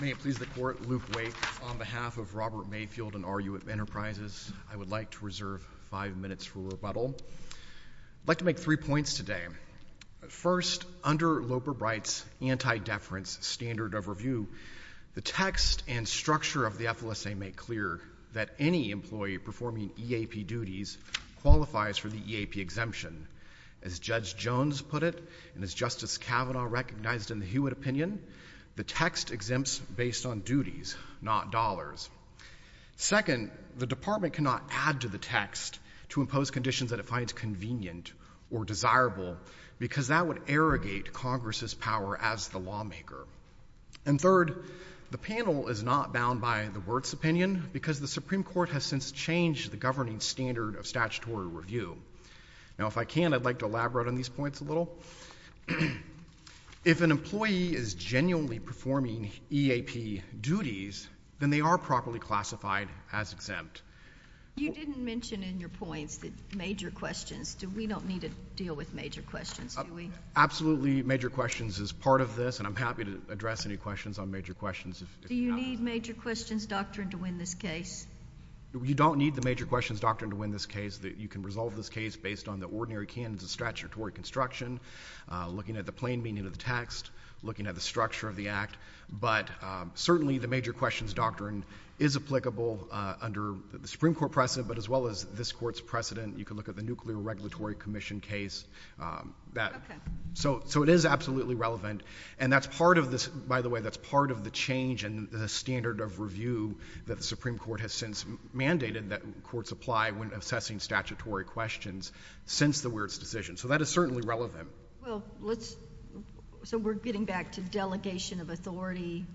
May it please the Court, Luke Wake, on behalf of Robert Mayfield and RU Enterprises, I would like to reserve five minutes for rebuttal. I'd like to make three points today. First, under Loper-Bright's anti-deference standard of review, the text and structure of the FLSA make clear that any employee performing EAP duties qualifies for the EAP exemption. As Justice Kavanaugh recognized in the Hewitt opinion, the text exempts based on duties, not dollars. Second, the Department cannot add to the text to impose conditions that it finds convenient or desirable because that would arrogate Congress's power as the lawmaker. And third, the panel is not bound by the Wirtz opinion because the Supreme Court has since changed the governing standard of statutory review. Now, if I can, I'd like to elaborate on these points a little. If an employee is genuinely performing EAP duties, then they are properly classified as exempt. You didn't mention in your points the major questions. We don't need to deal with major questions, do we? Absolutely major questions is part of this, and I'm happy to address any questions on major questions. Do you need major questions doctrine to win this case? You don't need the major questions doctrine to win this case. You can resolve this case based on the ordinary canons of statutory construction, looking at the plain meaning of the text, looking at the structure of the act. But certainly the major questions doctrine is applicable under the Supreme Court precedent, but as well as this Court's precedent. You can look at the Nuclear Regulatory Commission case. So it is absolutely relevant. And that's part of this, by the way, that's part of the change in the standard of review that the Supreme Court has since mandated that courts apply when assessing statutory questions since the Wirtz decision. So that is certainly relevant. So we're getting back to delegation of authority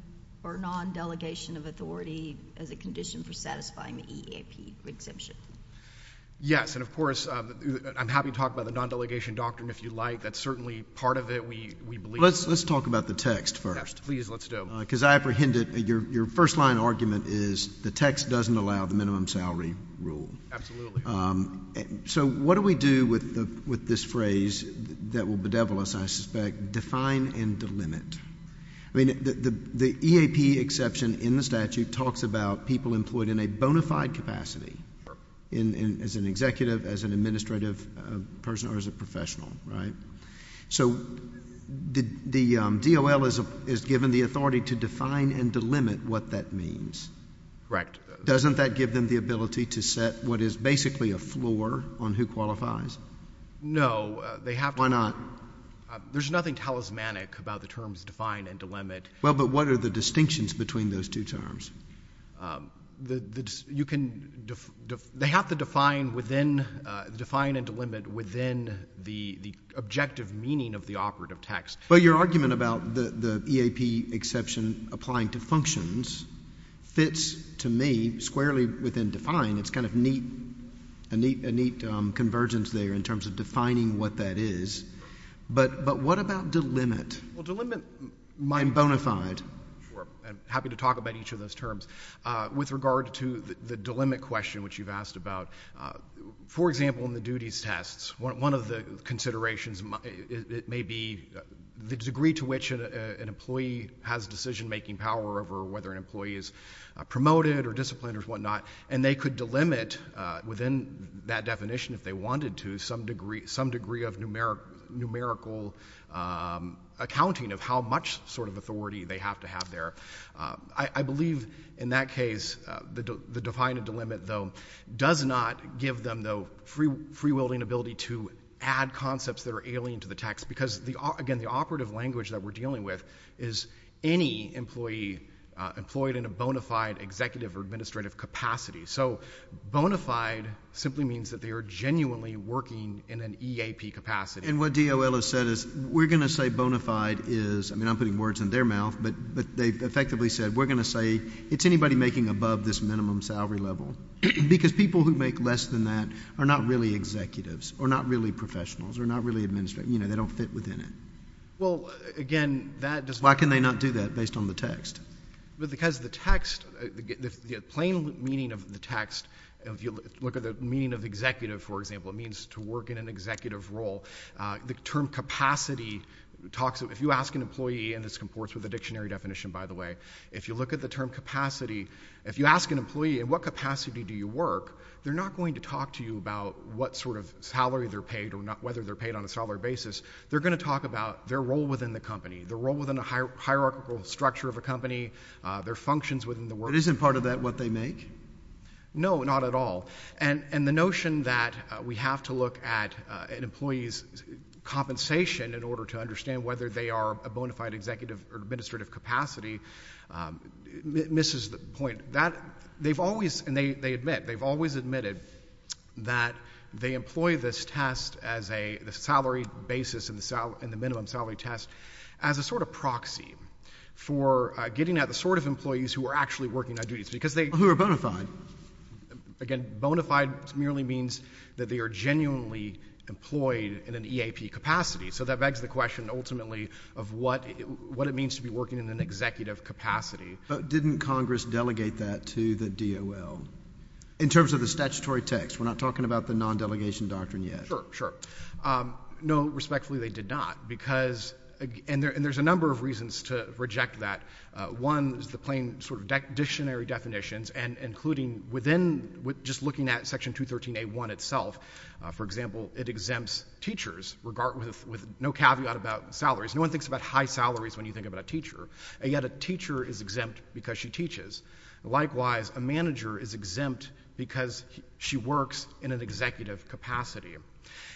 or non-delegation of authority as a condition for satisfying the EAP exemption? Yes, and of course, I'm happy to talk about the non-delegation doctrine if you like. That's certainly part of it, we believe. Let's talk about the text first. Yes, please, let's do. Because I apprehended your first-line argument is the text doesn't allow the minimum salary rule. Absolutely. So what do we do with this phrase that will bedevil us, I suspect, define and delimit? I mean, the EAP exception in the statute talks about people employed in a bona fide capacity as an executive, as an administrative person, or as a professional, right? So the DOL is given the authority to define and delimit what that means. Correct. Doesn't that give them the ability to set what is basically a floor on who qualifies? No, they have to— Why not? There's nothing talismanic about the terms define and delimit. Well, but what are the distinctions between those two terms? You can—they have to define within—define and delimit within the objective meaning of the operative text. But your argument about the EAP exception applying to functions fits, to me, squarely within define. It's kind of a neat convergence there in terms of defining what that is. But what about delimit? Well, delimit— I'm bona fide. Sure. I'm happy to talk about each of those terms. With regard to the delimit question which you've asked about, for example, in the duties tests, one of the considerations may be the degree to which an employee has decision-making power over whether an employee is promoted or disciplined or whatnot. And they could delimit within that definition if they wanted to some degree of numerical accounting of how much sort of authority they have to have there. I believe in that case, the define and delimit, though, does not give them, though, free-wielding ability to add concepts that are alien to the text because, again, the operative language that we're dealing with is any employee employed in a bona fide executive or administrative capacity. So bona fide simply means that they are genuinely working in an EAP capacity. And what DOL has said is we're going to say bona fide is—I mean, I'm putting words in their mouth, but they've effectively said we're going to say it's anybody making above this minimum salary level because people who make less than that are not really executives or not really professionals or not really administrative. You know, they don't fit within it. Well, again, that does not— Why can they not do that based on the text? Because the text, the plain meaning of the text, if you look at the meaning of executive, for example, it means to work in an executive role. The term capacity talks—if you ask an employee, and this comports with the dictionary definition, by the way, if you look at the term capacity, if you ask an employee, in what capacity do you work, they're not going to talk to you about what sort of salary they're paid or whether they're paid on a salary basis. They're going to talk about their role within the company, their role within a hierarchical structure of a company, their functions within the workplace. But isn't part of that what they make? No, not at all. And the notion that we have to look at an employee's compensation in order to understand whether they are a bona fide executive or administrative capacity misses the point. They've always—and they admit, they've always admitted that they employ this test as a salary basis and the minimum salary test as a sort of proxy for getting at the sort of employees who are actually working on duties because they— Who are bona fide. Again, bona fide merely means that they are genuinely employed in an EAP capacity. So that begs the question, ultimately, of what it means to be working in an executive capacity. But didn't Congress delegate that to the DOL? In terms of the statutory text, we're not talking about the non-delegation doctrine yet. Sure, sure. No, respectfully, they did not because—and there's a number of reasons to reject that. One is the plain sort of dictionary definitions and including within—just looking at Section 213A1 itself, for example, it exempts teachers with no caveat about salaries. No one thinks about high salaries when you think about a teacher. And yet a teacher is exempt because she teaches. Likewise, a manager is exempt because she works in an executive capacity.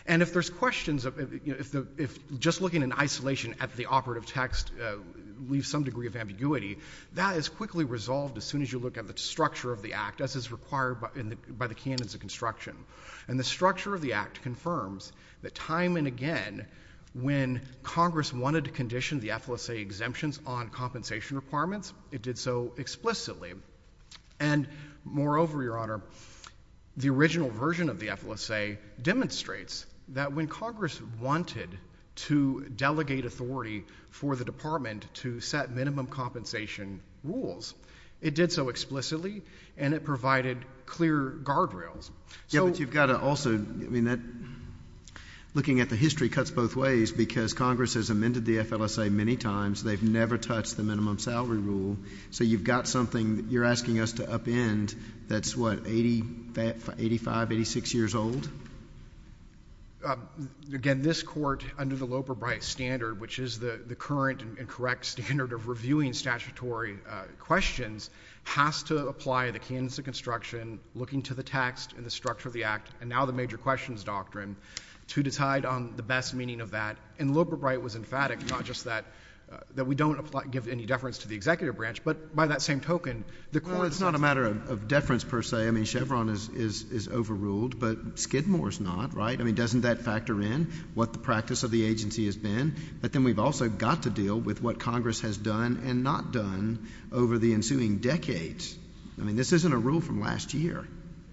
And if there's questions of—if just looking in isolation at the operative text leaves some degree of ambiguity, that is quickly resolved as soon as you look at the structure of the Act as is required by the canons of construction. And the structure of the Act confirms that time and again when Congress wanted to condition the FLSA exemptions on compensation requirements, it did so explicitly. And moreover, Your Honor, the original version of the FLSA demonstrates that when Congress wanted to delegate authority for the Department to set minimum compensation rules, it did so explicitly and it provided clear guardrails. Yeah, but you've got to also—I mean, that—looking at the history cuts both ways because Congress has amended the FLSA many times. They've never touched the minimum salary rule. So you've got something that you're asking us to upend that's, what, 85, 86 years old? Again, this Court, under the Loeb or Bright standard, which is the current and correct standard of reviewing statutory questions, has to apply the canons of construction, looking to the text and the structure of the Act, and now the major questions doctrine, to decide on the best meaning of that. And Loeb or Bright was emphatic, not just that we don't apply—give any deference to the Executive Branch, but by that same token, the Court— Well, it's not a matter of deference, per se. I mean, Chevron is overruled, but Skidmore is not, right? I mean, doesn't that factor in what the practice of the agency has been? But then we've also got to deal with what Congress has done and not done over the ensuing decades. I mean, this isn't a rule from last year.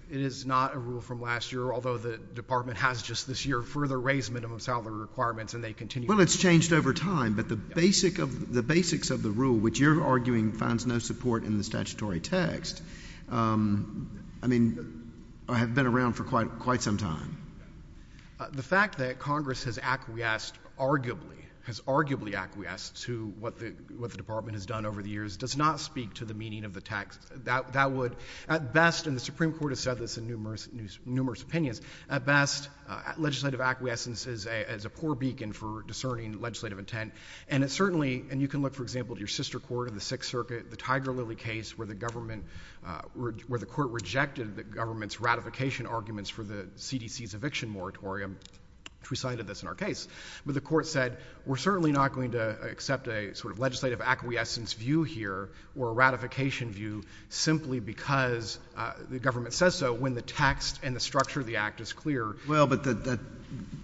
It is not a rule from last year, although the Department has just this year further raised minimum salary requirements, and they continue— Well, it's changed over time, but the basics of the rule, which you're arguing finds no support in the statutory text, I mean, have been around for quite some time. The fact that Congress has arguably acquiesced to what the Department has done over the years does not speak to the meaning of the text. That would, at best—and the Supreme Court has said this in numerous opinions—at best, legislative acquiescence is a poor beacon for discerning legislative intent, and it certainly—and you can look, for example, at your sister court in the Sixth Circuit, the Tiger-Lily case, where the Court rejected the government's ratification arguments for the CDC's eviction moratorium, which we cited this in our case. But the Court said, we're certainly not going to accept a sort of legislative acquiescence view here or a ratification view simply because the government says so when the text and the structure of the Act is clear. Well, but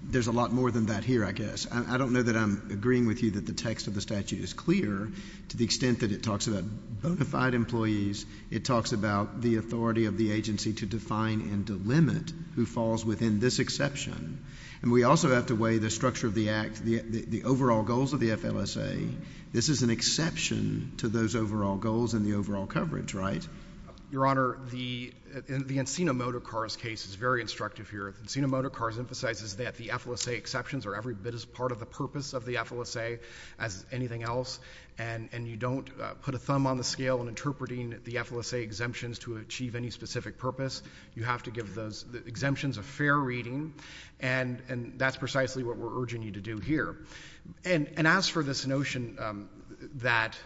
there's a lot more than that here, I guess. I don't know that I'm agreeing with you that the text of the statute is clear to the extent that it talks about bona fide employees. It talks about the authority of the agency to define and to limit who falls within this exception. And we also have to weigh the structure of the Act, the overall goals of the FLSA. This is an exception to those overall goals and the overall coverage, right? Your Honor, the Encino Motor Cars case is very instructive here. The Encino Motor Cars emphasizes that the FLSA exceptions are every bit as part of the purpose of the FLSA as anything else. And you don't put a thumb on the scale in interpreting the FLSA exemptions to achieve any specific purpose. You have to give those exemptions a fair reading. And that's precisely what we're urging you to do here. And as for this notion that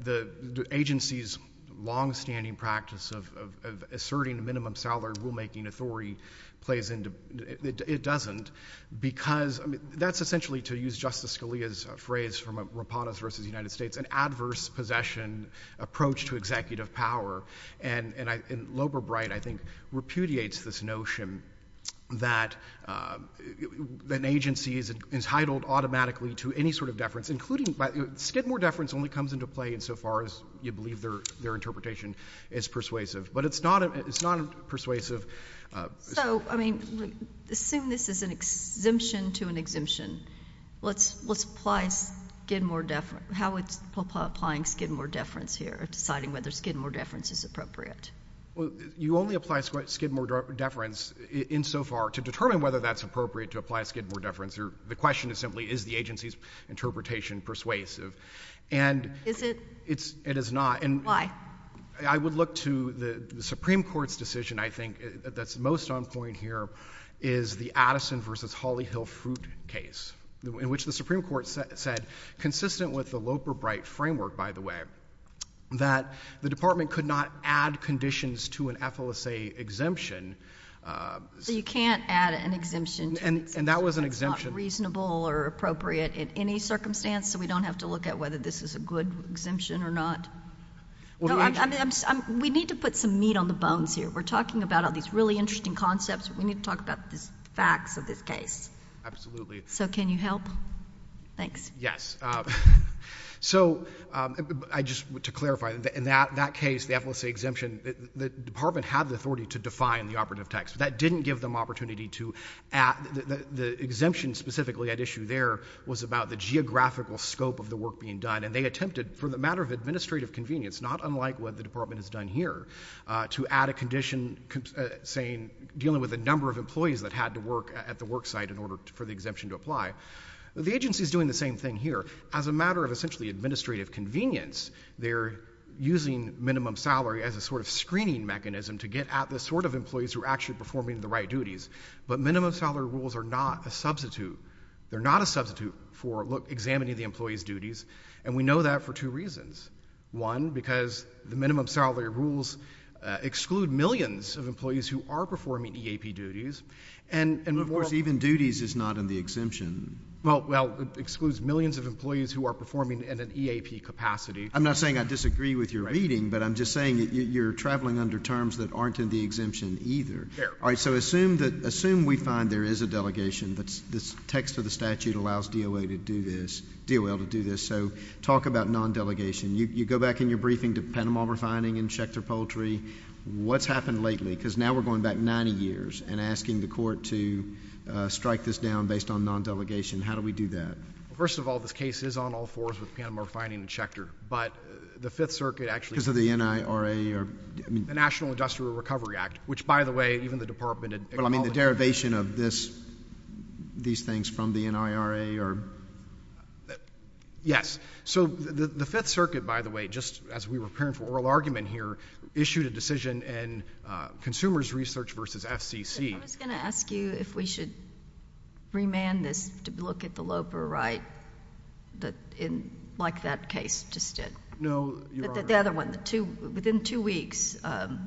the agency's longstanding practice of asserting a minimum salary rulemaking authority plays into it, it doesn't. Because that's essentially to use Justice Scalia's phrase from Rapatos v. United States, an adverse possession approach to executive power. And Loeber-Bright, I think, repudiates this notion that an agency is entitled automatically to any sort of deference, including by—a bit more deference only comes into play insofar as you believe their interpretation is persuasive. But it's not a persuasive— So, I mean, assume this is an exemption to an exemption. Let's apply Skidmore deference—how would—applying Skidmore deference here, deciding whether Skidmore deference is appropriate? You only apply Skidmore deference insofar to determine whether that's appropriate to apply Skidmore deference. The question is simply, is the agency's interpretation persuasive? And— Is it? It is not. Why? I would look to the Supreme Court's decision, I think, that's most on point here, is the Addison v. Holly Hill Fruit case, in which the Supreme Court said, consistent with the Loeber-Bright framework, by the way, that the Department could not add conditions to an FLSA exemption— You can't add an exemption to an exemption. And that was an exemption— It's not reasonable or appropriate in any circumstance, so we don't have to look at whether this is a good exemption or not. No, I'm—we need to put some meat on the bones here. We're talking about all these really interesting concepts. We need to talk about the facts of this case. Absolutely. So can you help? Thanks. Yes. So I just—to clarify, in that case, the FLSA exemption, the Department had the authority to define the operative text. That didn't give them opportunity to add—the exemption specifically at issue there was about the geographical scope of the work being done, and they attempted, for the matter of administrative convenience, not unlike what the Department has done here, to add a condition saying—dealing with a number of employees that had to work at the work site in order for the exemption to apply. The agency's doing the same thing here. As a matter of essentially administrative convenience, they're using minimum salary as a sort of screening mechanism to get at the sort of employees who are actually performing the right duties. But minimum salary rules are not a substitute. They're not a substitute for, look, examining the employees' duties. And we know that for two reasons. One, because the minimum salary rules exclude millions of employees who are performing EAP duties, and— Of course, even duties is not in the exemption. Well, well, it excludes millions of employees who are performing in an EAP capacity. I'm not saying I disagree with your reading, but I'm just saying that you're traveling under terms that aren't in the exemption either. Fair. All right. So assume that—assume we find there is a delegation that's—the text of the statute allows DOA to do this—DOL to do this. So talk about non-delegation. You go back in your briefing to Panama Refining and Schechter Poultry. What's happened lately? Because now we're going back 90 years and asking the Court to strike this down based on non-delegation. How do we do that? First of all, this case is on all fours with Panama Refining and Schechter. But the Fifth Circuit actually— Because of the NIRA or— The National Industrial Recovery Act, which, by the way, even the Department of— But, I mean, the derivation of this—these things from the NIRA or— Yes. So the Fifth Circuit, by the way, just as we were preparing for oral argument here, issued a decision in Consumers Research v. FCC— I was going to ask you if we should remand this to look at the Loper right, like that case just did. No, Your Honor— The other one, the two—within two weeks, I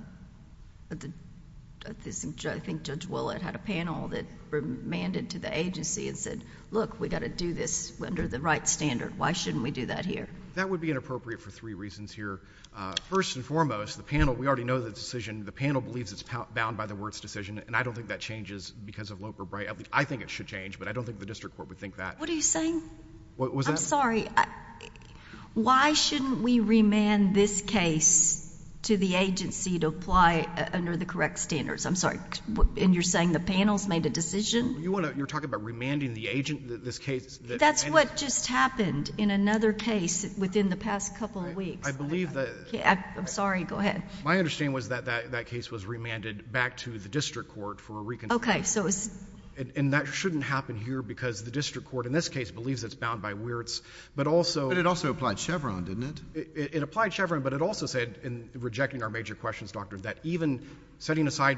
think Judge Willett had a panel that remanded to the agency and said, look, we've got to do this under the right standard. Why shouldn't we do that here? That would be inappropriate for three reasons here. First and foremost, the panel—we already know the decision—the panel believes it's bound by the Wirtz decision, and I don't think that changes because of Loper right. I think it should change, but I don't think the district court would think that. What are you saying? What was that? Well, I'm sorry. Why shouldn't we remand this case to the agency to apply under the correct standards? I'm sorry. And you're saying the panel's made a decision? You want to—you're talking about remanding the agent, this case— That's what just happened in another case within the past couple of weeks. I believe that— I'm sorry. Go ahead. My understanding was that that case was remanded back to the district court for a reconsideration. Okay. So it's— And that shouldn't happen here because the district court in this case believes it's bound by Wirtz, but also— But it also applied Chevron, didn't it? It applied Chevron, but it also said in rejecting our major questions, Doctor, that even setting aside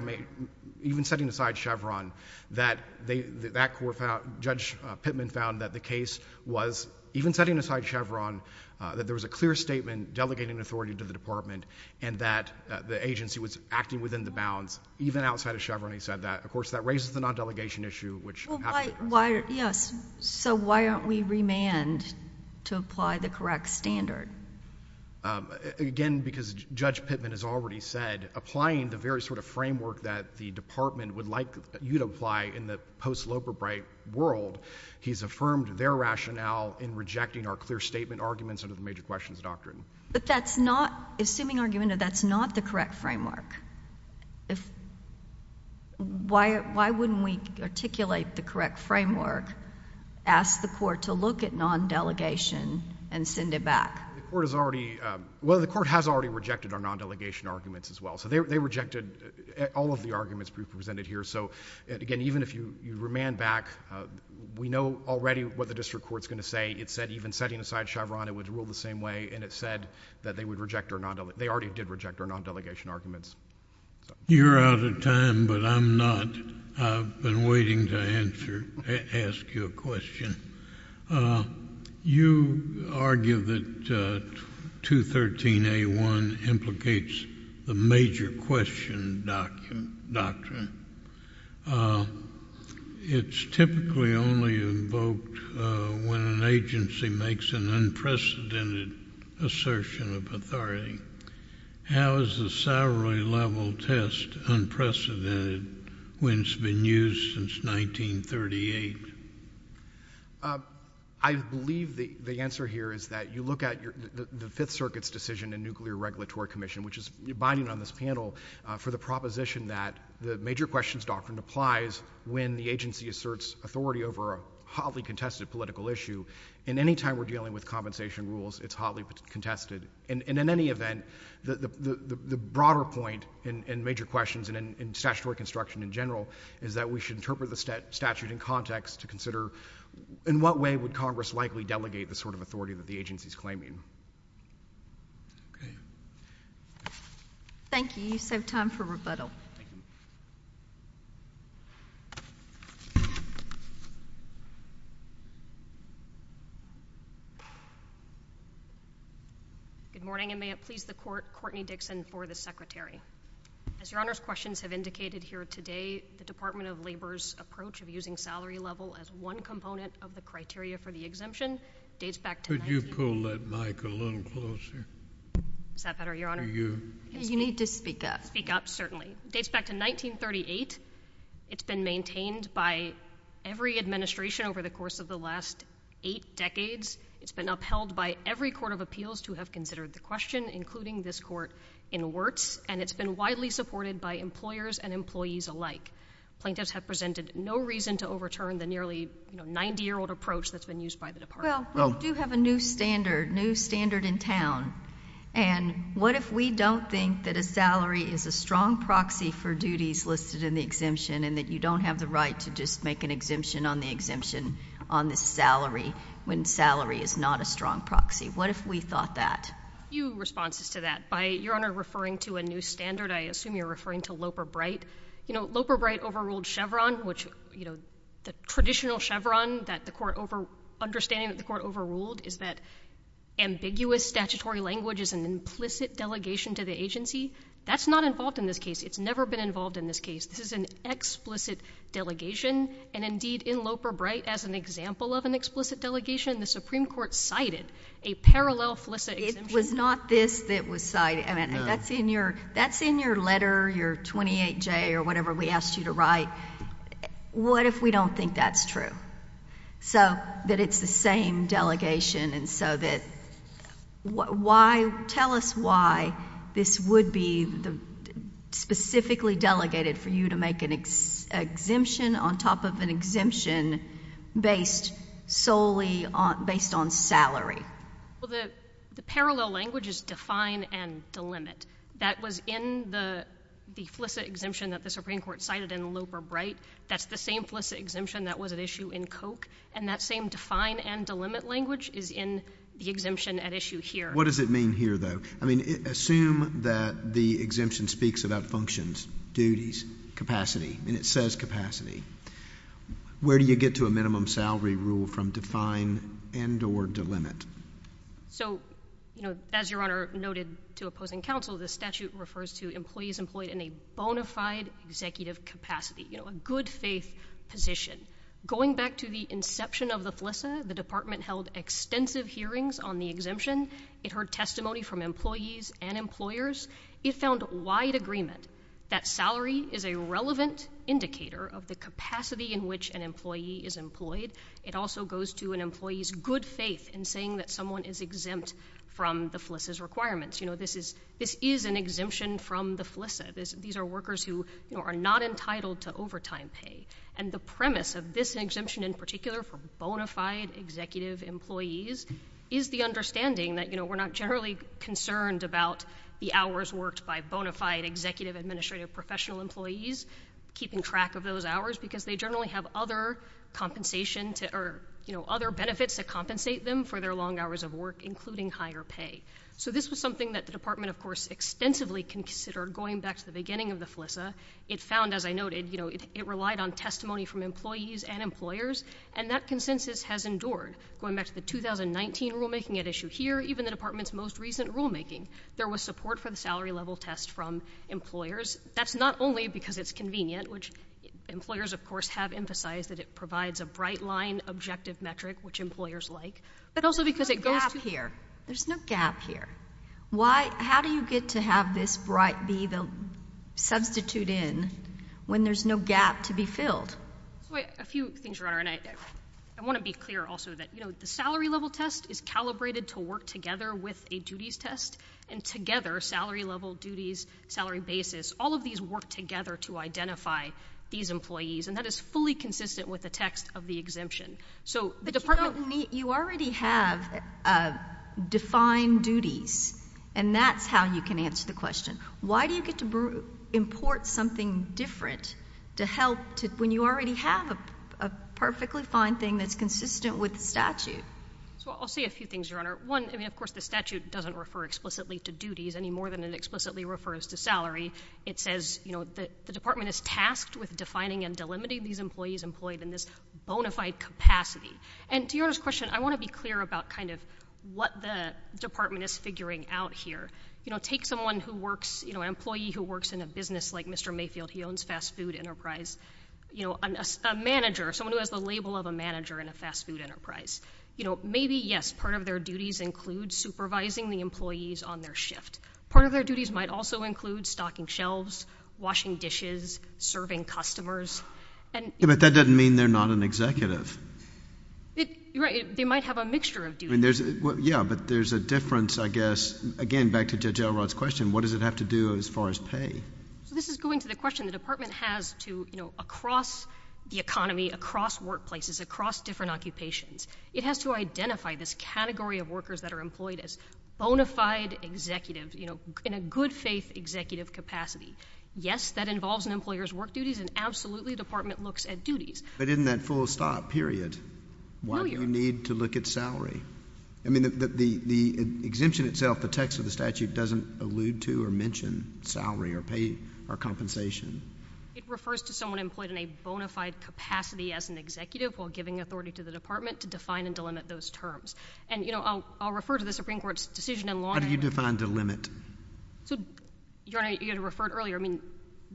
Chevron, that that court found—Judge Pittman found that the case was—even setting aside Chevron, that there was a clear statement delegating authority to the Department and that the agency was acting within the bounds, even outside of Chevron, he said that. Of course, that raises the non-delegation issue, which— Why—yes. So why aren't we remanded to apply the correct standard? Again, because Judge Pittman has already said, applying the very sort of framework that the Department would like you to apply in the post-Loperbright world, he's affirmed their rationale in rejecting our clear statement arguments under the major questions doctrine. But that's not—assuming argument that that's not the correct framework, if—why wouldn't we articulate the correct framework, ask the court to look at non-delegation and send it back? The court has already—well, the court has already rejected our non-delegation arguments as well. So they rejected all of the arguments presented here. So again, even if you remand back, we know already what the district court's going to say. It said even setting aside Chevron, it would rule the same way, and it said that they would reject our non—they already did reject our non-delegation arguments. You're out of time, but I'm not. I've been waiting to answer—ask you a question. You argue that 213a.1 implicates the major question doctrine. It's typically only invoked when an agency makes an unprecedented assertion of authority. How is the salaried level test unprecedented when it's been used since 1938? I believe the answer here is that you look at your—the Fifth Circuit's decision in Nuclear Regulatory Commission, which is binding on this panel, for the proposition that the questions doctrine applies when the agency asserts authority over a hotly contested political issue. And any time we're dealing with compensation rules, it's hotly contested. And in any event, the broader point in major questions and in statutory construction in general is that we should interpret the statute in context to consider in what way would Congress likely delegate the sort of authority that the agency's claiming. Okay. Thank you. You still have time for rebuttal. Okay. Good morning, and may it please the Court, Courtney Dixon for the Secretary. As Your Honor's questions have indicated here today, the Department of Labor's approach of using salary level as one component of the criteria for the exemption dates back to— Could you pull that mic a little closer? Is that better, Your Honor? For you. You need to speak up. Certainly. It dates back to 1938. It's been maintained by every administration over the course of the last eight decades. It's been upheld by every court of appeals to have considered the question, including this court in Wirtz. And it's been widely supported by employers and employees alike. Plaintiffs have presented no reason to overturn the nearly 90-year-old approach that's been used by the Department. Well, we do have a new standard, new standard in town. And what if we don't think that a is a strong proxy for duties listed in the exemption and that you don't have the right to just make an exemption on the exemption on the salary when salary is not a strong proxy? What if we thought that? Few responses to that. By Your Honor referring to a new standard, I assume you're referring to Loper-Bright. You know, Loper-Bright overruled Chevron, which, you know, the traditional Chevron that the court—understanding that the court overruled is that ambiguous statutory language is an implicit delegation to the agency. That's not involved in this case. It's never been involved in this case. This is an explicit delegation. And indeed, in Loper-Bright, as an example of an explicit delegation, the Supreme Court cited a parallel FLISA exemption. It was not this that was cited. I mean, that's in your letter, your 28J or whatever we asked you to write. What if we don't think that's true? So that it's the same delegation and so that why—tell us why this would be specifically delegated for you to make an exemption on top of an exemption based solely on—based on salary. Well, the parallel language is define and delimit. That was in the FLISA exemption that the Supreme Court cited in Loper-Bright. That's the same FLISA exemption that was at issue in Koch. And that same define and delimit language is in the exemption at issue here. What does it mean here, though? I mean, assume that the exemption speaks about functions, duties, capacity, and it says capacity. Where do you get to a minimum salary rule from define and or delimit? So, you know, as Your Honor noted to opposing counsel, the statute refers to employees in a bona fide executive capacity, you know, a good faith position. Going back to the inception of the FLISA, the department held extensive hearings on the exemption. It heard testimony from employees and employers. It found wide agreement that salary is a relevant indicator of the capacity in which an employee is employed. It also goes to an employee's good faith in saying that someone is exempt from the FLISA's requirements. You know, this is—this is an exemption from the FLISA. These are workers who, you know, are not entitled to overtime pay. And the premise of this exemption in particular for bona fide executive employees is the understanding that, you know, we're not generally concerned about the hours worked by bona fide executive administrative professional employees keeping track of those hours because they generally have other compensation to—or, you know, other benefits that compensate them for their long hours of work, including higher pay. So this was something that the department, of course, extensively considered going back to the beginning of the FLISA. It found, as I noted, you know, it relied on testimony from employees and employers, and that consensus has endured. Going back to the 2019 rulemaking at issue here, even the department's most recent rulemaking, there was support for the salary level test from employers. That's not only because it's convenient, which employers, of course, have emphasized that it provides a bright line objective metric, which employers like, but also because it goes to— How do you get to have this bright be the substitute in when there's no gap to be filled? So a few things, Your Honor, and I want to be clear also that, you know, the salary level test is calibrated to work together with a duties test, and together, salary level, duties, salary basis, all of these work together to identify these employees, and that is fully consistent with the text of the exemption. So the department— You already have defined duties, and that's how you can answer the question. Why do you get to import something different to help when you already have a perfectly fine thing that's consistent with the statute? So I'll say a few things, Your Honor. One, I mean, of course, the statute doesn't refer explicitly to duties any more than it explicitly refers to salary. It says, you know, that the department is tasked with defining and delimiting these employees employed in this bona fide capacity, and to Your Honor's question, I want to be clear about kind of what the department is figuring out here. You know, take someone who works, you know, an employee who works in a business like Mr. Mayfield. He owns fast food enterprise. You know, a manager, someone who has the label of a manager in a fast food enterprise, you know, maybe, yes, part of their duties include supervising the employees on their shift. Part of their duties might also include stocking shelves, washing dishes, serving customers, and— But that doesn't mean they're not an executive. Right. They might have a mixture of duties. I mean, yeah, but there's a difference, I guess. Again, back to Judge Elrod's question, what does it have to do as far as pay? So this is going to the question the department has to, you know, across the economy, across workplaces, across different occupations, it has to identify this category of workers that are employed as bona fide executive, you know, in a good faith executive capacity. Yes, that involves an employer's work duties, and absolutely, the department looks at duties. But isn't that full stop, period? No, Your Honor. Why do you need to look at salary? I mean, the exemption itself, the text of the statute doesn't allude to or mention salary or pay or compensation. It refers to someone employed in a bona fide capacity as an executive while giving authority to the department to define and delimit those terms. And, you know, I'll refer to the Supreme Court's decision in law— How do you define delimit? So, Your Honor, you had referred earlier, I mean,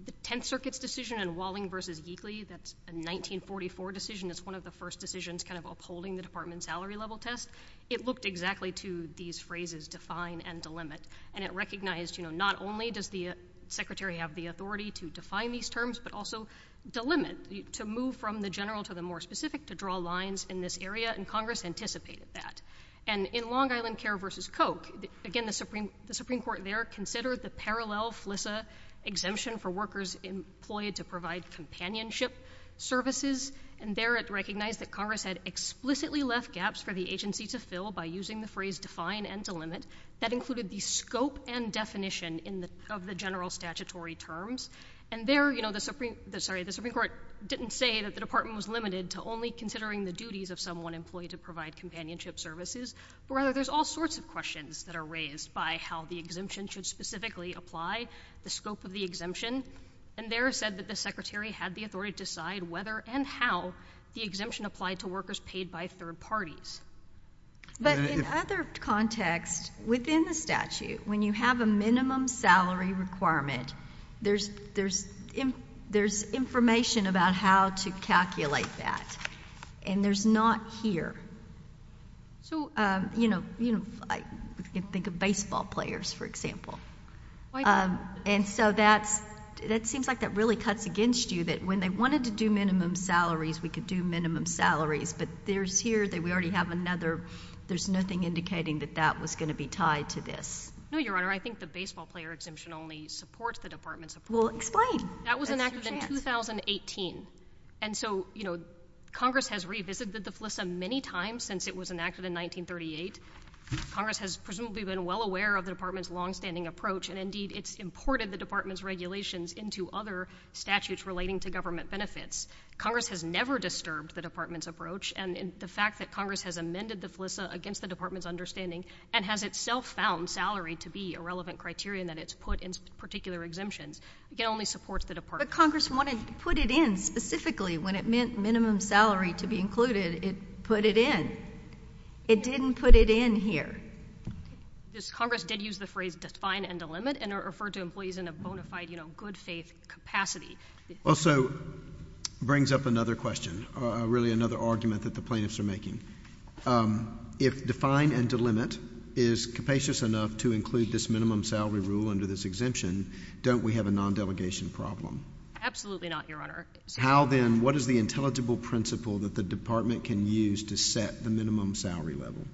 the Tenth Circuit's decision in Walling v. Yeakley, that's a 1944 decision, it's one of the first decisions kind of upholding the department's salary level test, it looked exactly to these phrases, define and delimit. And it recognized, you know, not only does the secretary have the authority to define these terms, but also delimit, to move from the general to the more specific, to draw lines in this area, and Congress anticipated that. And in Long Island Care v. Koch, again, the Supreme Court there considered the parallel FLISA exemption for workers employed to provide companionship services, and there it recognized that Congress had explicitly left gaps for the agency to fill by using the phrase define and delimit. That included the scope and definition of the general statutory terms. And there, you know, the Supreme—sorry, the Supreme Court didn't say that the department was limited to only considering the duties of someone employed to provide companionship services, but rather there's all sorts of questions that are raised by how the exemption should specifically apply, the scope of the exemption. And there it said that the secretary had the authority to decide whether and how the exemption applied to workers paid by third parties. But in other contexts within the statute, when you have a minimum salary requirement, there's information about how to calculate that, and there's not here. So, you know, you can think of baseball players, for example. And so that's—it seems like that really cuts against you, that when they wanted to do minimum salaries, we could do minimum salaries, but there's here that we already have another—there's nothing indicating that that was going to be tied to this. No, Your Honor. I think the baseball player exemption only supports the department's approach. Well, explain. That was enacted in 2018. And so, you know, Congress has revisited the FLISA many times since it was enacted in 1938. Congress has presumably been well aware of the department's longstanding approach, and indeed it's imported the department's regulations into other statutes relating to government benefits. Congress has never disturbed the department's approach, and the fact that Congress has amended the FLISA against the department's understanding, and has itself found salary to be a relevant criterion that it's put in particular exemptions, again, only supports the department. But Congress wanted to put it in specifically when it meant minimum salary to be included. It put it in. It didn't put it in here. Congress did use the phrase define and delimit, and it referred to employees in a bona fide, you know, good-faith capacity. Also brings up another question, really another argument that the plaintiffs are making. Um, if define and delimit is capacious enough to include this minimum salary rule under this exemption, don't we have a non-delegation problem? Absolutely not, Your Honor. How then, what is the intelligible principle that the department can use to set the minimum salary level?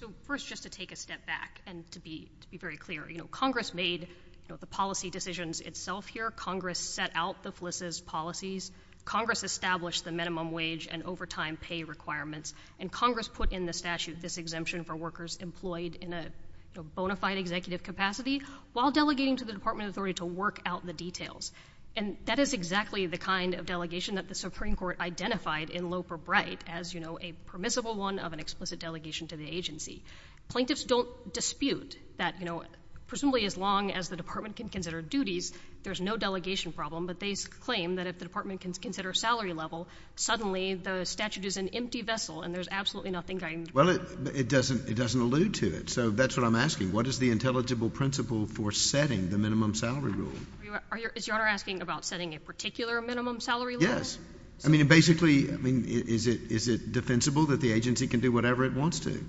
So, first, just to take a step back, and to be very clear, you know, Congress made, you know, the policy decisions itself here. Congress set out the FLISA's policies. Congress established the minimum wage and overtime pay requirements, and Congress put in the statute this exemption for workers employed in a, you know, bona fide executive capacity, while delegating to the department authority to work out the details. And that is exactly the kind of delegation that the Supreme Court identified in Loeb or Bright as, you know, a permissible one of an explicit delegation to the agency. Plaintiffs don't dispute that, you know, presumably as long as the department can consider duties, there's no delegation problem. But they claim that if the department can consider salary level, suddenly the statute is an empty vessel, and there's absolutely nothing going to— Well, it doesn't allude to it. So that's what I'm asking. What is the intelligible principle for setting the minimum salary rule? Is Your Honor asking about setting a particular minimum salary rule? Yes. I mean, basically, I mean, is it defensible that the agency can do whatever it wants to?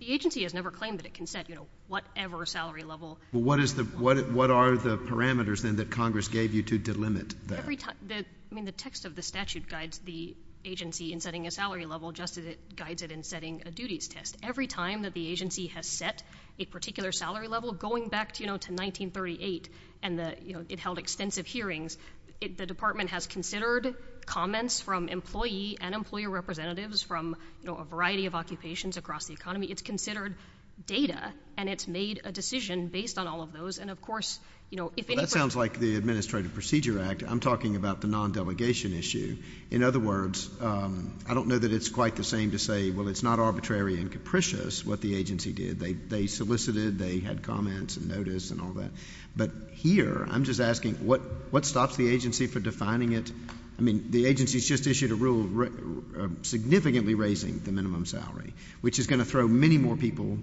The agency has never claimed that it can set, you know, whatever salary level— What is the—what are the parameters, then, that Congress gave you to delimit that? Every time—I mean, the text of the statute guides the agency in setting a salary level just as it guides it in setting a duties test. Every time that the agency has set a particular salary level, going back, you know, to 1938 and the, you know, it held extensive hearings, the department has considered comments from employee and employer representatives from, you know, a variety of occupations across the economy. It's considered data, and it's made a decision based on all of those. And, of course, you know, if any— That sounds like the Administrative Procedure Act. I'm talking about the non-delegation issue. In other words, I don't know that it's quite the same to say, well, it's not arbitrary and capricious what the agency did. They solicited, they had comments and notice and all that. But here, I'm just asking, what stops the agency for defining it? I mean, the agency's just issued a rule significantly raising the minimum salary, which is going to throw many more people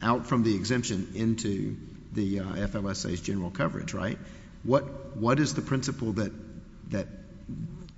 out from the exemption into the FLSA's general coverage, right? What is the principle that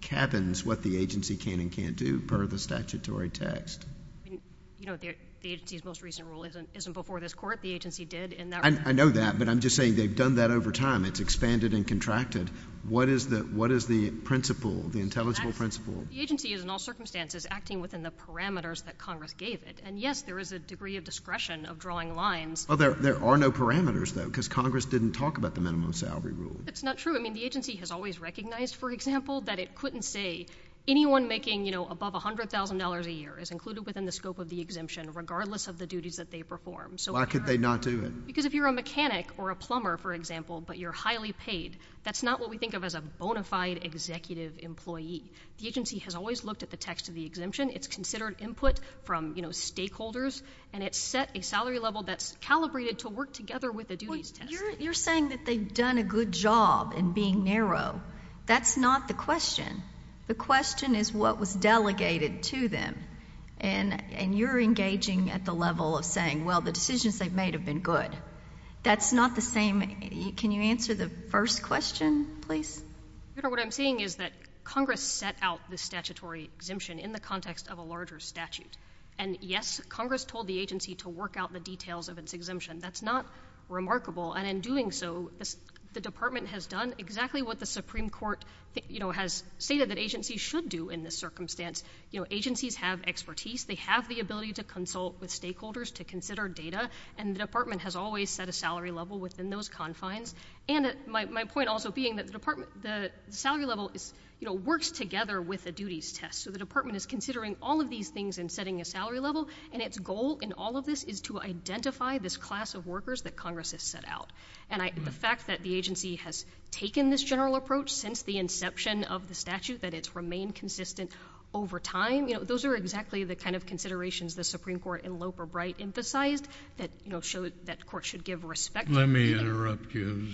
cabins what the agency can and can't do per the statutory text? I mean, you know, the agency's most recent rule isn't before this Court. The agency did in that regard. I know that, but I'm just saying they've done that over time. It's expanded and contracted. What is the principle, the intelligible principle? The agency is in all circumstances acting within the parameters that Congress gave it. And yes, there is a degree of discretion of drawing lines. Well, there are no parameters, though, because Congress didn't talk about the minimum salary rule. It's not true. I mean, the agency has always recognized, for example, that it couldn't say anyone making, you know, above $100,000 a year is included within the scope of the exemption, regardless of the duties that they perform. Why could they not do it? Because if you're a mechanic or a plumber, for example, but you're highly paid, that's not what we think of as a bona fide executive employee. The agency has always looked at the text of the exemption. It's considered input from, you know, stakeholders, and it's set a salary level that's calibrated to work together with the duties test. Well, you're saying that they've done a good job in being narrow. That's not the question. The question is what was delegated to them. And you're engaging at the level of saying, well, the decisions they've made have been good. That's not the same. Can you answer the first question, please? You know, what I'm saying is that Congress set out the statutory exemption in the context of a larger statute. And, yes, Congress told the agency to work out the details of its exemption. That's not remarkable. And in doing so, the Department has done exactly what the Supreme Court, you know, has stated that agencies should do in this circumstance. You know, agencies have expertise. They have the ability to consult with stakeholders to consider data, and the Department has always set a salary level within those confines. And my point also being that the Department, the salary level is, you know, works together with a duties test. So the Department is considering all of these things and setting a salary level. And its goal in all of this is to identify this class of workers that Congress has set out. And the fact that the agency has taken this general approach since the inception of the statute, that it's remained consistent over time, you know, those are exactly the kind of considerations the Supreme Court in Loper-Bright emphasized that, you know, showed that courts should give respect. Let me interrupt you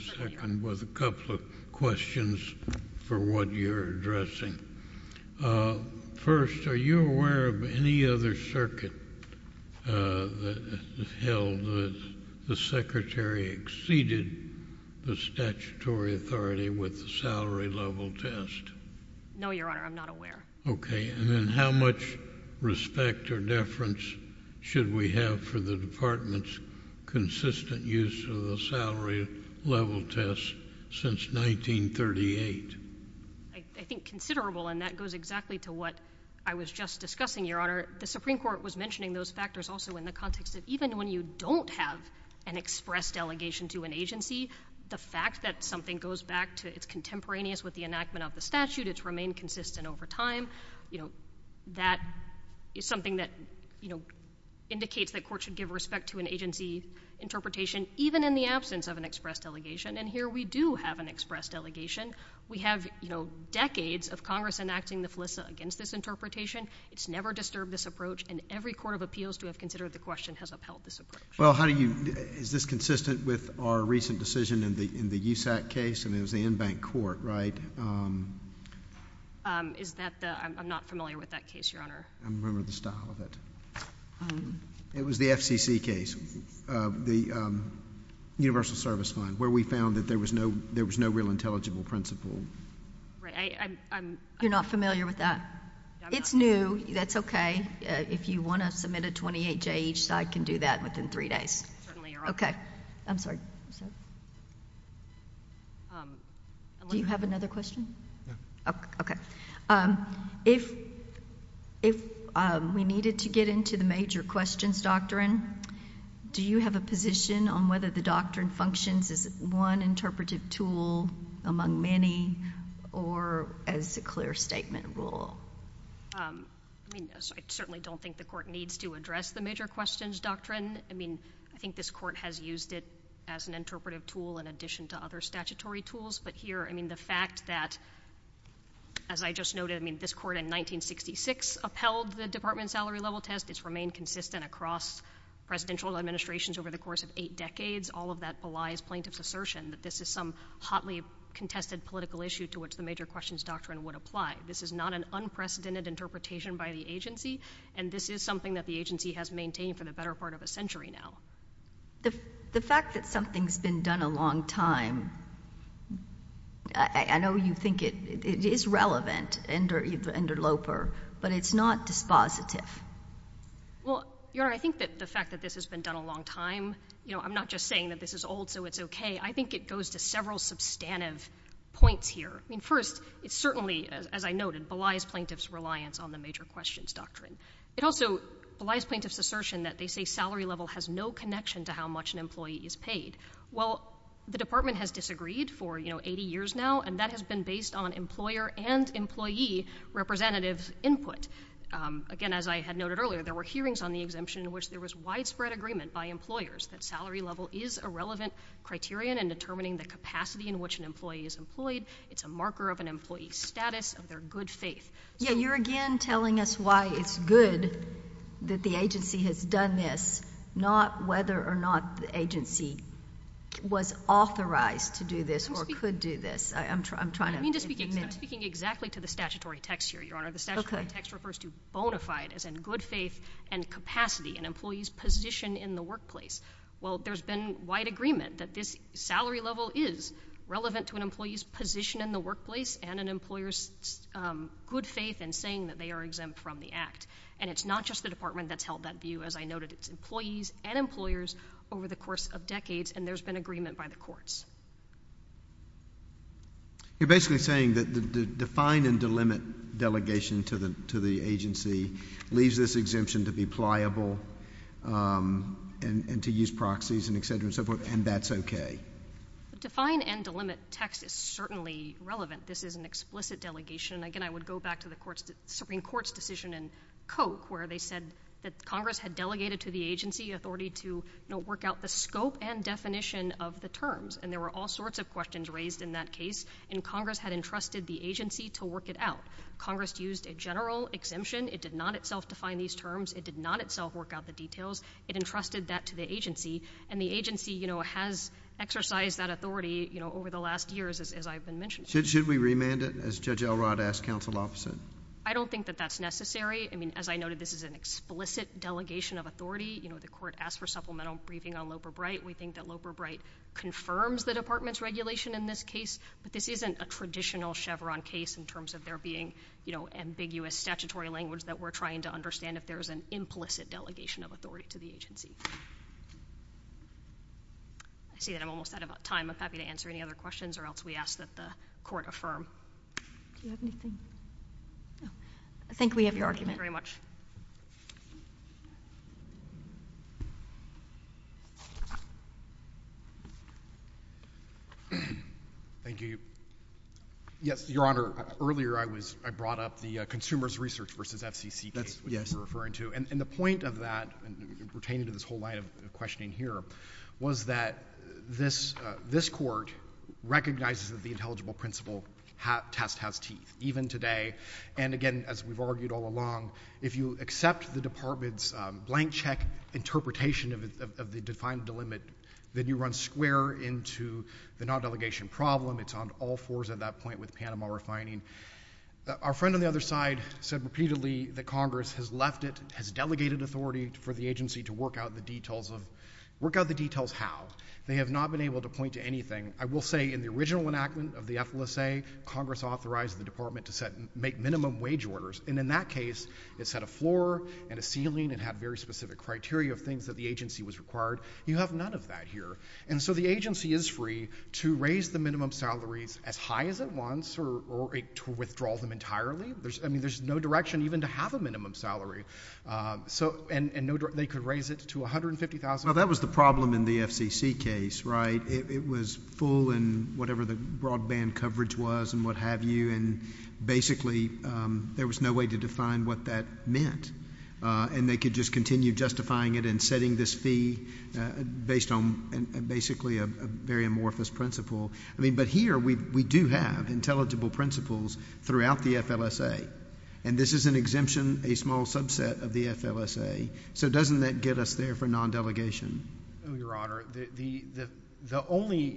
with a couple of questions for what you're addressing. First, are you aware of any other circuit that held that the Secretary exceeded the statutory authority with the salary level test? No, Your Honor. I'm not aware. Okay. And then how much respect or deference should we have for the Department's consistent use of the salary level test since 1938? I think considerable, and that goes exactly to what I was just discussing, Your Honor. The Supreme Court was mentioning those factors also in the context that even when you don't have an express delegation to an agency, the fact that something goes back to its contemporaneous with the enactment of the statute, it's remained consistent over time, you know, that is something that, you know, indicates that courts should give respect to an agency interpretation even in the absence of an express delegation. And here we do have an express delegation. We have, you know, decades of Congress enacting the FLISA against this interpretation. It's never disturbed this approach, and every Court of Appeals to have considered the question has upheld this approach. Well, how do you—is this consistent with our recent decision in the USAC case? I mean, it was the Enbank Court, right? Is that the—I'm not familiar with that case, Your Honor. I don't remember the style of it. It was the FCC case. The Universal Service Fund, where we found that there was no real intelligible principle. Right. You're not familiar with that? It's new. That's okay. If you want to submit a 28-J each side can do that within three days. Certainly, Your Honor. Okay. I'm sorry. Do you have another question? Okay. If we needed to get into the major questions doctrine, do you have a position on whether the doctrine functions as one interpretive tool among many or as a clear statement rule? I mean, I certainly don't think the Court needs to address the major questions doctrine. I mean, I think this Court has used it as an interpretive tool in addition to other statutory tools. But here, I mean, the fact that, as I just noted, I mean, this Court in 1966 upheld the department salary level test. It's remained consistent across presidential administrations over the course of eight decades. All of that belies plaintiff's assertion that this is some hotly contested political issue to which the major questions doctrine would apply. This is not an unprecedented interpretation by the agency, and this is something that the agency has maintained for the better part of a century now. The fact that something's been done a long time, I know you think it is relevant under Loper, but it's not dispositive. Well, Your Honor, I think that the fact that this has been done a long time, you know, I'm not just saying that this is old, so it's okay. I think it goes to several substantive points here. I mean, first, it's certainly, as I noted, belies plaintiff's reliance on the major questions doctrine. It also belies plaintiff's assertion that they say salary level has no connection to how much an employee is paid. Well, the department has disagreed for, you know, 80 years now, and that has been based on employer and employee representative input. Again, as I had noted earlier, there were hearings on the exemption in which there was widespread agreement by employers that salary level is a relevant criterion in determining the capacity in which an employee is employed. It's a marker of an employee's status, of their good faith. Yeah, you're again telling us why it's good that the agency has done this, not whether or not the agency was authorized to do this or could do this. I'm trying to— I'm speaking exactly to the statutory text here, Your Honor. The statutory text refers to bona fide, as in good faith and capacity, an employee's position in the workplace. Well, there's been wide agreement that this salary level is relevant to an employee's position in the workplace and an employer's good faith in saying that they are exempt from the act, and it's not just the department that's held that view. As I noted, it's employees and employers over the course of decades, and there's been agreement by the courts. You're basically saying that the define and delimit delegation to the agency leaves this exemption to be pliable and to use proxies and et cetera and so forth, and that's okay? The define and delimit text is certainly relevant. This is an explicit delegation. Again, I would go back to the Supreme Court's decision in Koch where they said that Congress had delegated to the agency authority to work out the scope and definition of the terms, and there were all sorts of questions raised in that case, and Congress had entrusted the agency to work it out. Congress used a general exemption. It did not itself define these terms. It did not itself work out the details. It entrusted that to the agency, and the agency has exercised that authority over the last years, as I've been mentioning. Should we remand it, as Judge Elrod asked counsel opposite? I don't think that that's necessary. As I noted, this is an explicit delegation of authority. The court asked for supplemental briefing on Loeb or Bright. We think that Loeb or Bright confirms the department's regulation in this case, but this isn't a traditional Chevron case in terms of there being ambiguous statutory language we're trying to understand if there's an implicit delegation of authority to the agency. I see that I'm almost out of time. I'm happy to answer any other questions or else we ask that the court affirm. Do you have anything? No. I think we have your argument. Thank you very much. Thank you. Yes, Your Honor. Earlier, I brought up the consumer's research versus FCC case that you were referring to. And the point of that, pertaining to this whole line of questioning here, was that this court recognizes that the intelligible principle test has teeth, even today. And again, as we've argued all along, if you accept the department's blank check interpretation of the defined delimit, then you run square into the non-delegation problem. It's on all fours at that point with Panama refining. Our friend on the other side said repeatedly that Congress has left it, has delegated authority for the agency to work out the details how. They have not been able to point to anything. I will say, in the original enactment of the FLSA, Congress authorized the department to make minimum wage orders. And in that case, it set a floor and a ceiling and had very specific criteria of things that the agency was required. You have none of that here. And so the agency is free to raise the minimum salaries as high as it wants or to withdraw them entirely. I mean, there's no direction even to have a minimum salary. And they could raise it to $150,000. Well, that was the problem in the FCC case, right? It was full in whatever the broadband coverage was and what have you. And basically, there was no way to define what that meant. And they could just continue justifying it and setting this fee based on basically a very amorphous principle. I mean, but here we do have intelligible principles throughout the FLSA. And this is an exemption, a small subset of the FLSA. So doesn't that get us there for non-delegation? Oh, Your Honor, the only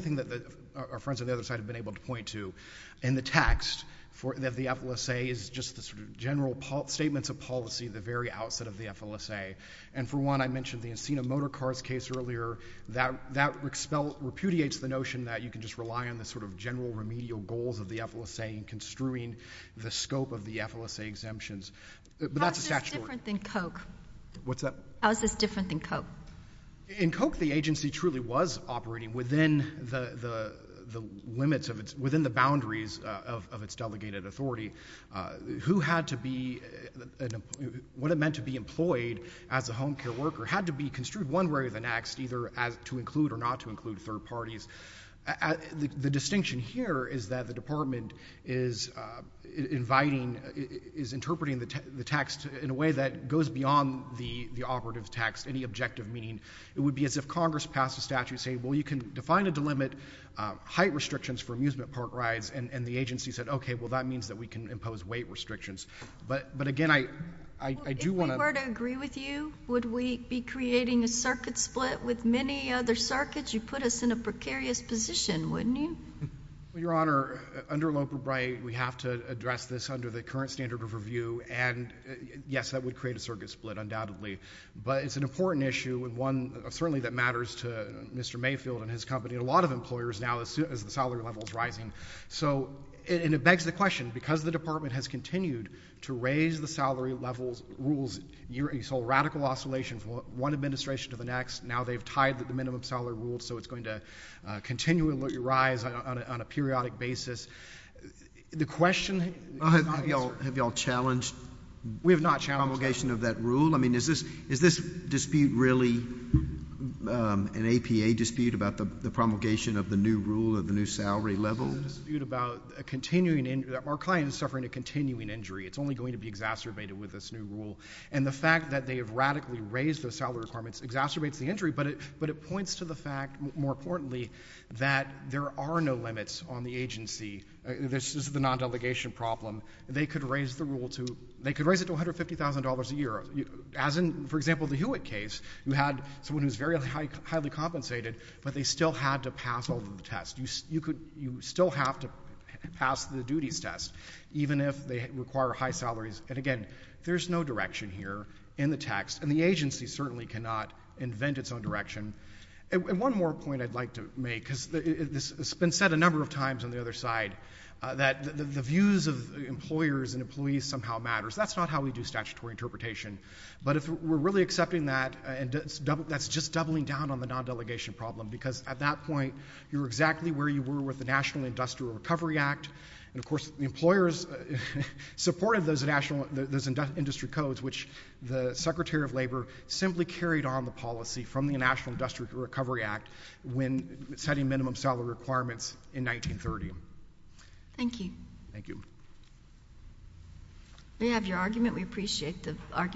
thing that our friends on the other side have been able to point to in the text of the FLSA is just the sort of general statements of policy at the very outset of the FLSA. And for one, I mentioned the Encino Motorcars case earlier. That repudiates the notion that you can just rely on the sort of general remedial goals of the FLSA in construing the scope of the FLSA exemptions. But that's a statutory— How is this different than COKE? What's that? How is this different than COKE? In COKE, the agency truly was operating within the limits of its—within the boundaries of its delegated authority. Who had to be—what it meant to be employed as a home care worker had to be construed one way or the next, either to include or not to include third parties. The distinction here is that the Department is inviting, is interpreting the text in a operative text, any objective meaning. It would be as if Congress passed a statute saying, well, you can define and delimit height restrictions for amusement park rides. And the agency said, OK, well, that means that we can impose weight restrictions. But again, I do want to— If we were to agree with you, would we be creating a circuit split with many other circuits? You'd put us in a precarious position, wouldn't you? Your Honor, under Loper-Bright, we have to address this under the current standard of And yes, that would create a circuit split, undoubtedly. But it's an important issue and one certainly that matters to Mr. Mayfield and his company and a lot of employers now as soon as the salary level is rising. So—and it begs the question, because the Department has continued to raise the salary levels—rules, you saw radical oscillation from one administration to the next. Now they've tied the minimum salary rules, so it's going to continue to rise on a periodic basis. The question— Have you all challenged the promulgation of that rule? I mean, is this dispute really an APA dispute about the promulgation of the new rule at the new salary level? It's a dispute about a continuing—our client is suffering a continuing injury. It's only going to be exacerbated with this new rule. And the fact that they have radically raised the salary requirements exacerbates the injury, but it points to the fact, more importantly, that there are no limits on the agency. This is the non-delegation problem. They could raise the rule to—they could raise it to $150,000 a year, as in, for example, the Hewitt case. You had someone who's very highly compensated, but they still had to pass all the tests. You still have to pass the duties test, even if they require high salaries. And again, there's no direction here in the text, and the agency certainly cannot invent its own direction. And one more point I'd like to make, because this has been said a number of times on the other side, that the views of employers and employees somehow matters. That's not how we do statutory interpretation. But if we're really accepting that, that's just doubling down on the non-delegation problem, because at that point, you're exactly where you were with the National Industrial Recovery Act. And of course, the employers supported those national—those industry codes, which the Secretary of Labor simply carried on the policy from the National Industrial Recovery Act when setting minimum salary requirements in 1930. Thank you. Thank you. We have your argument. We appreciate the argument.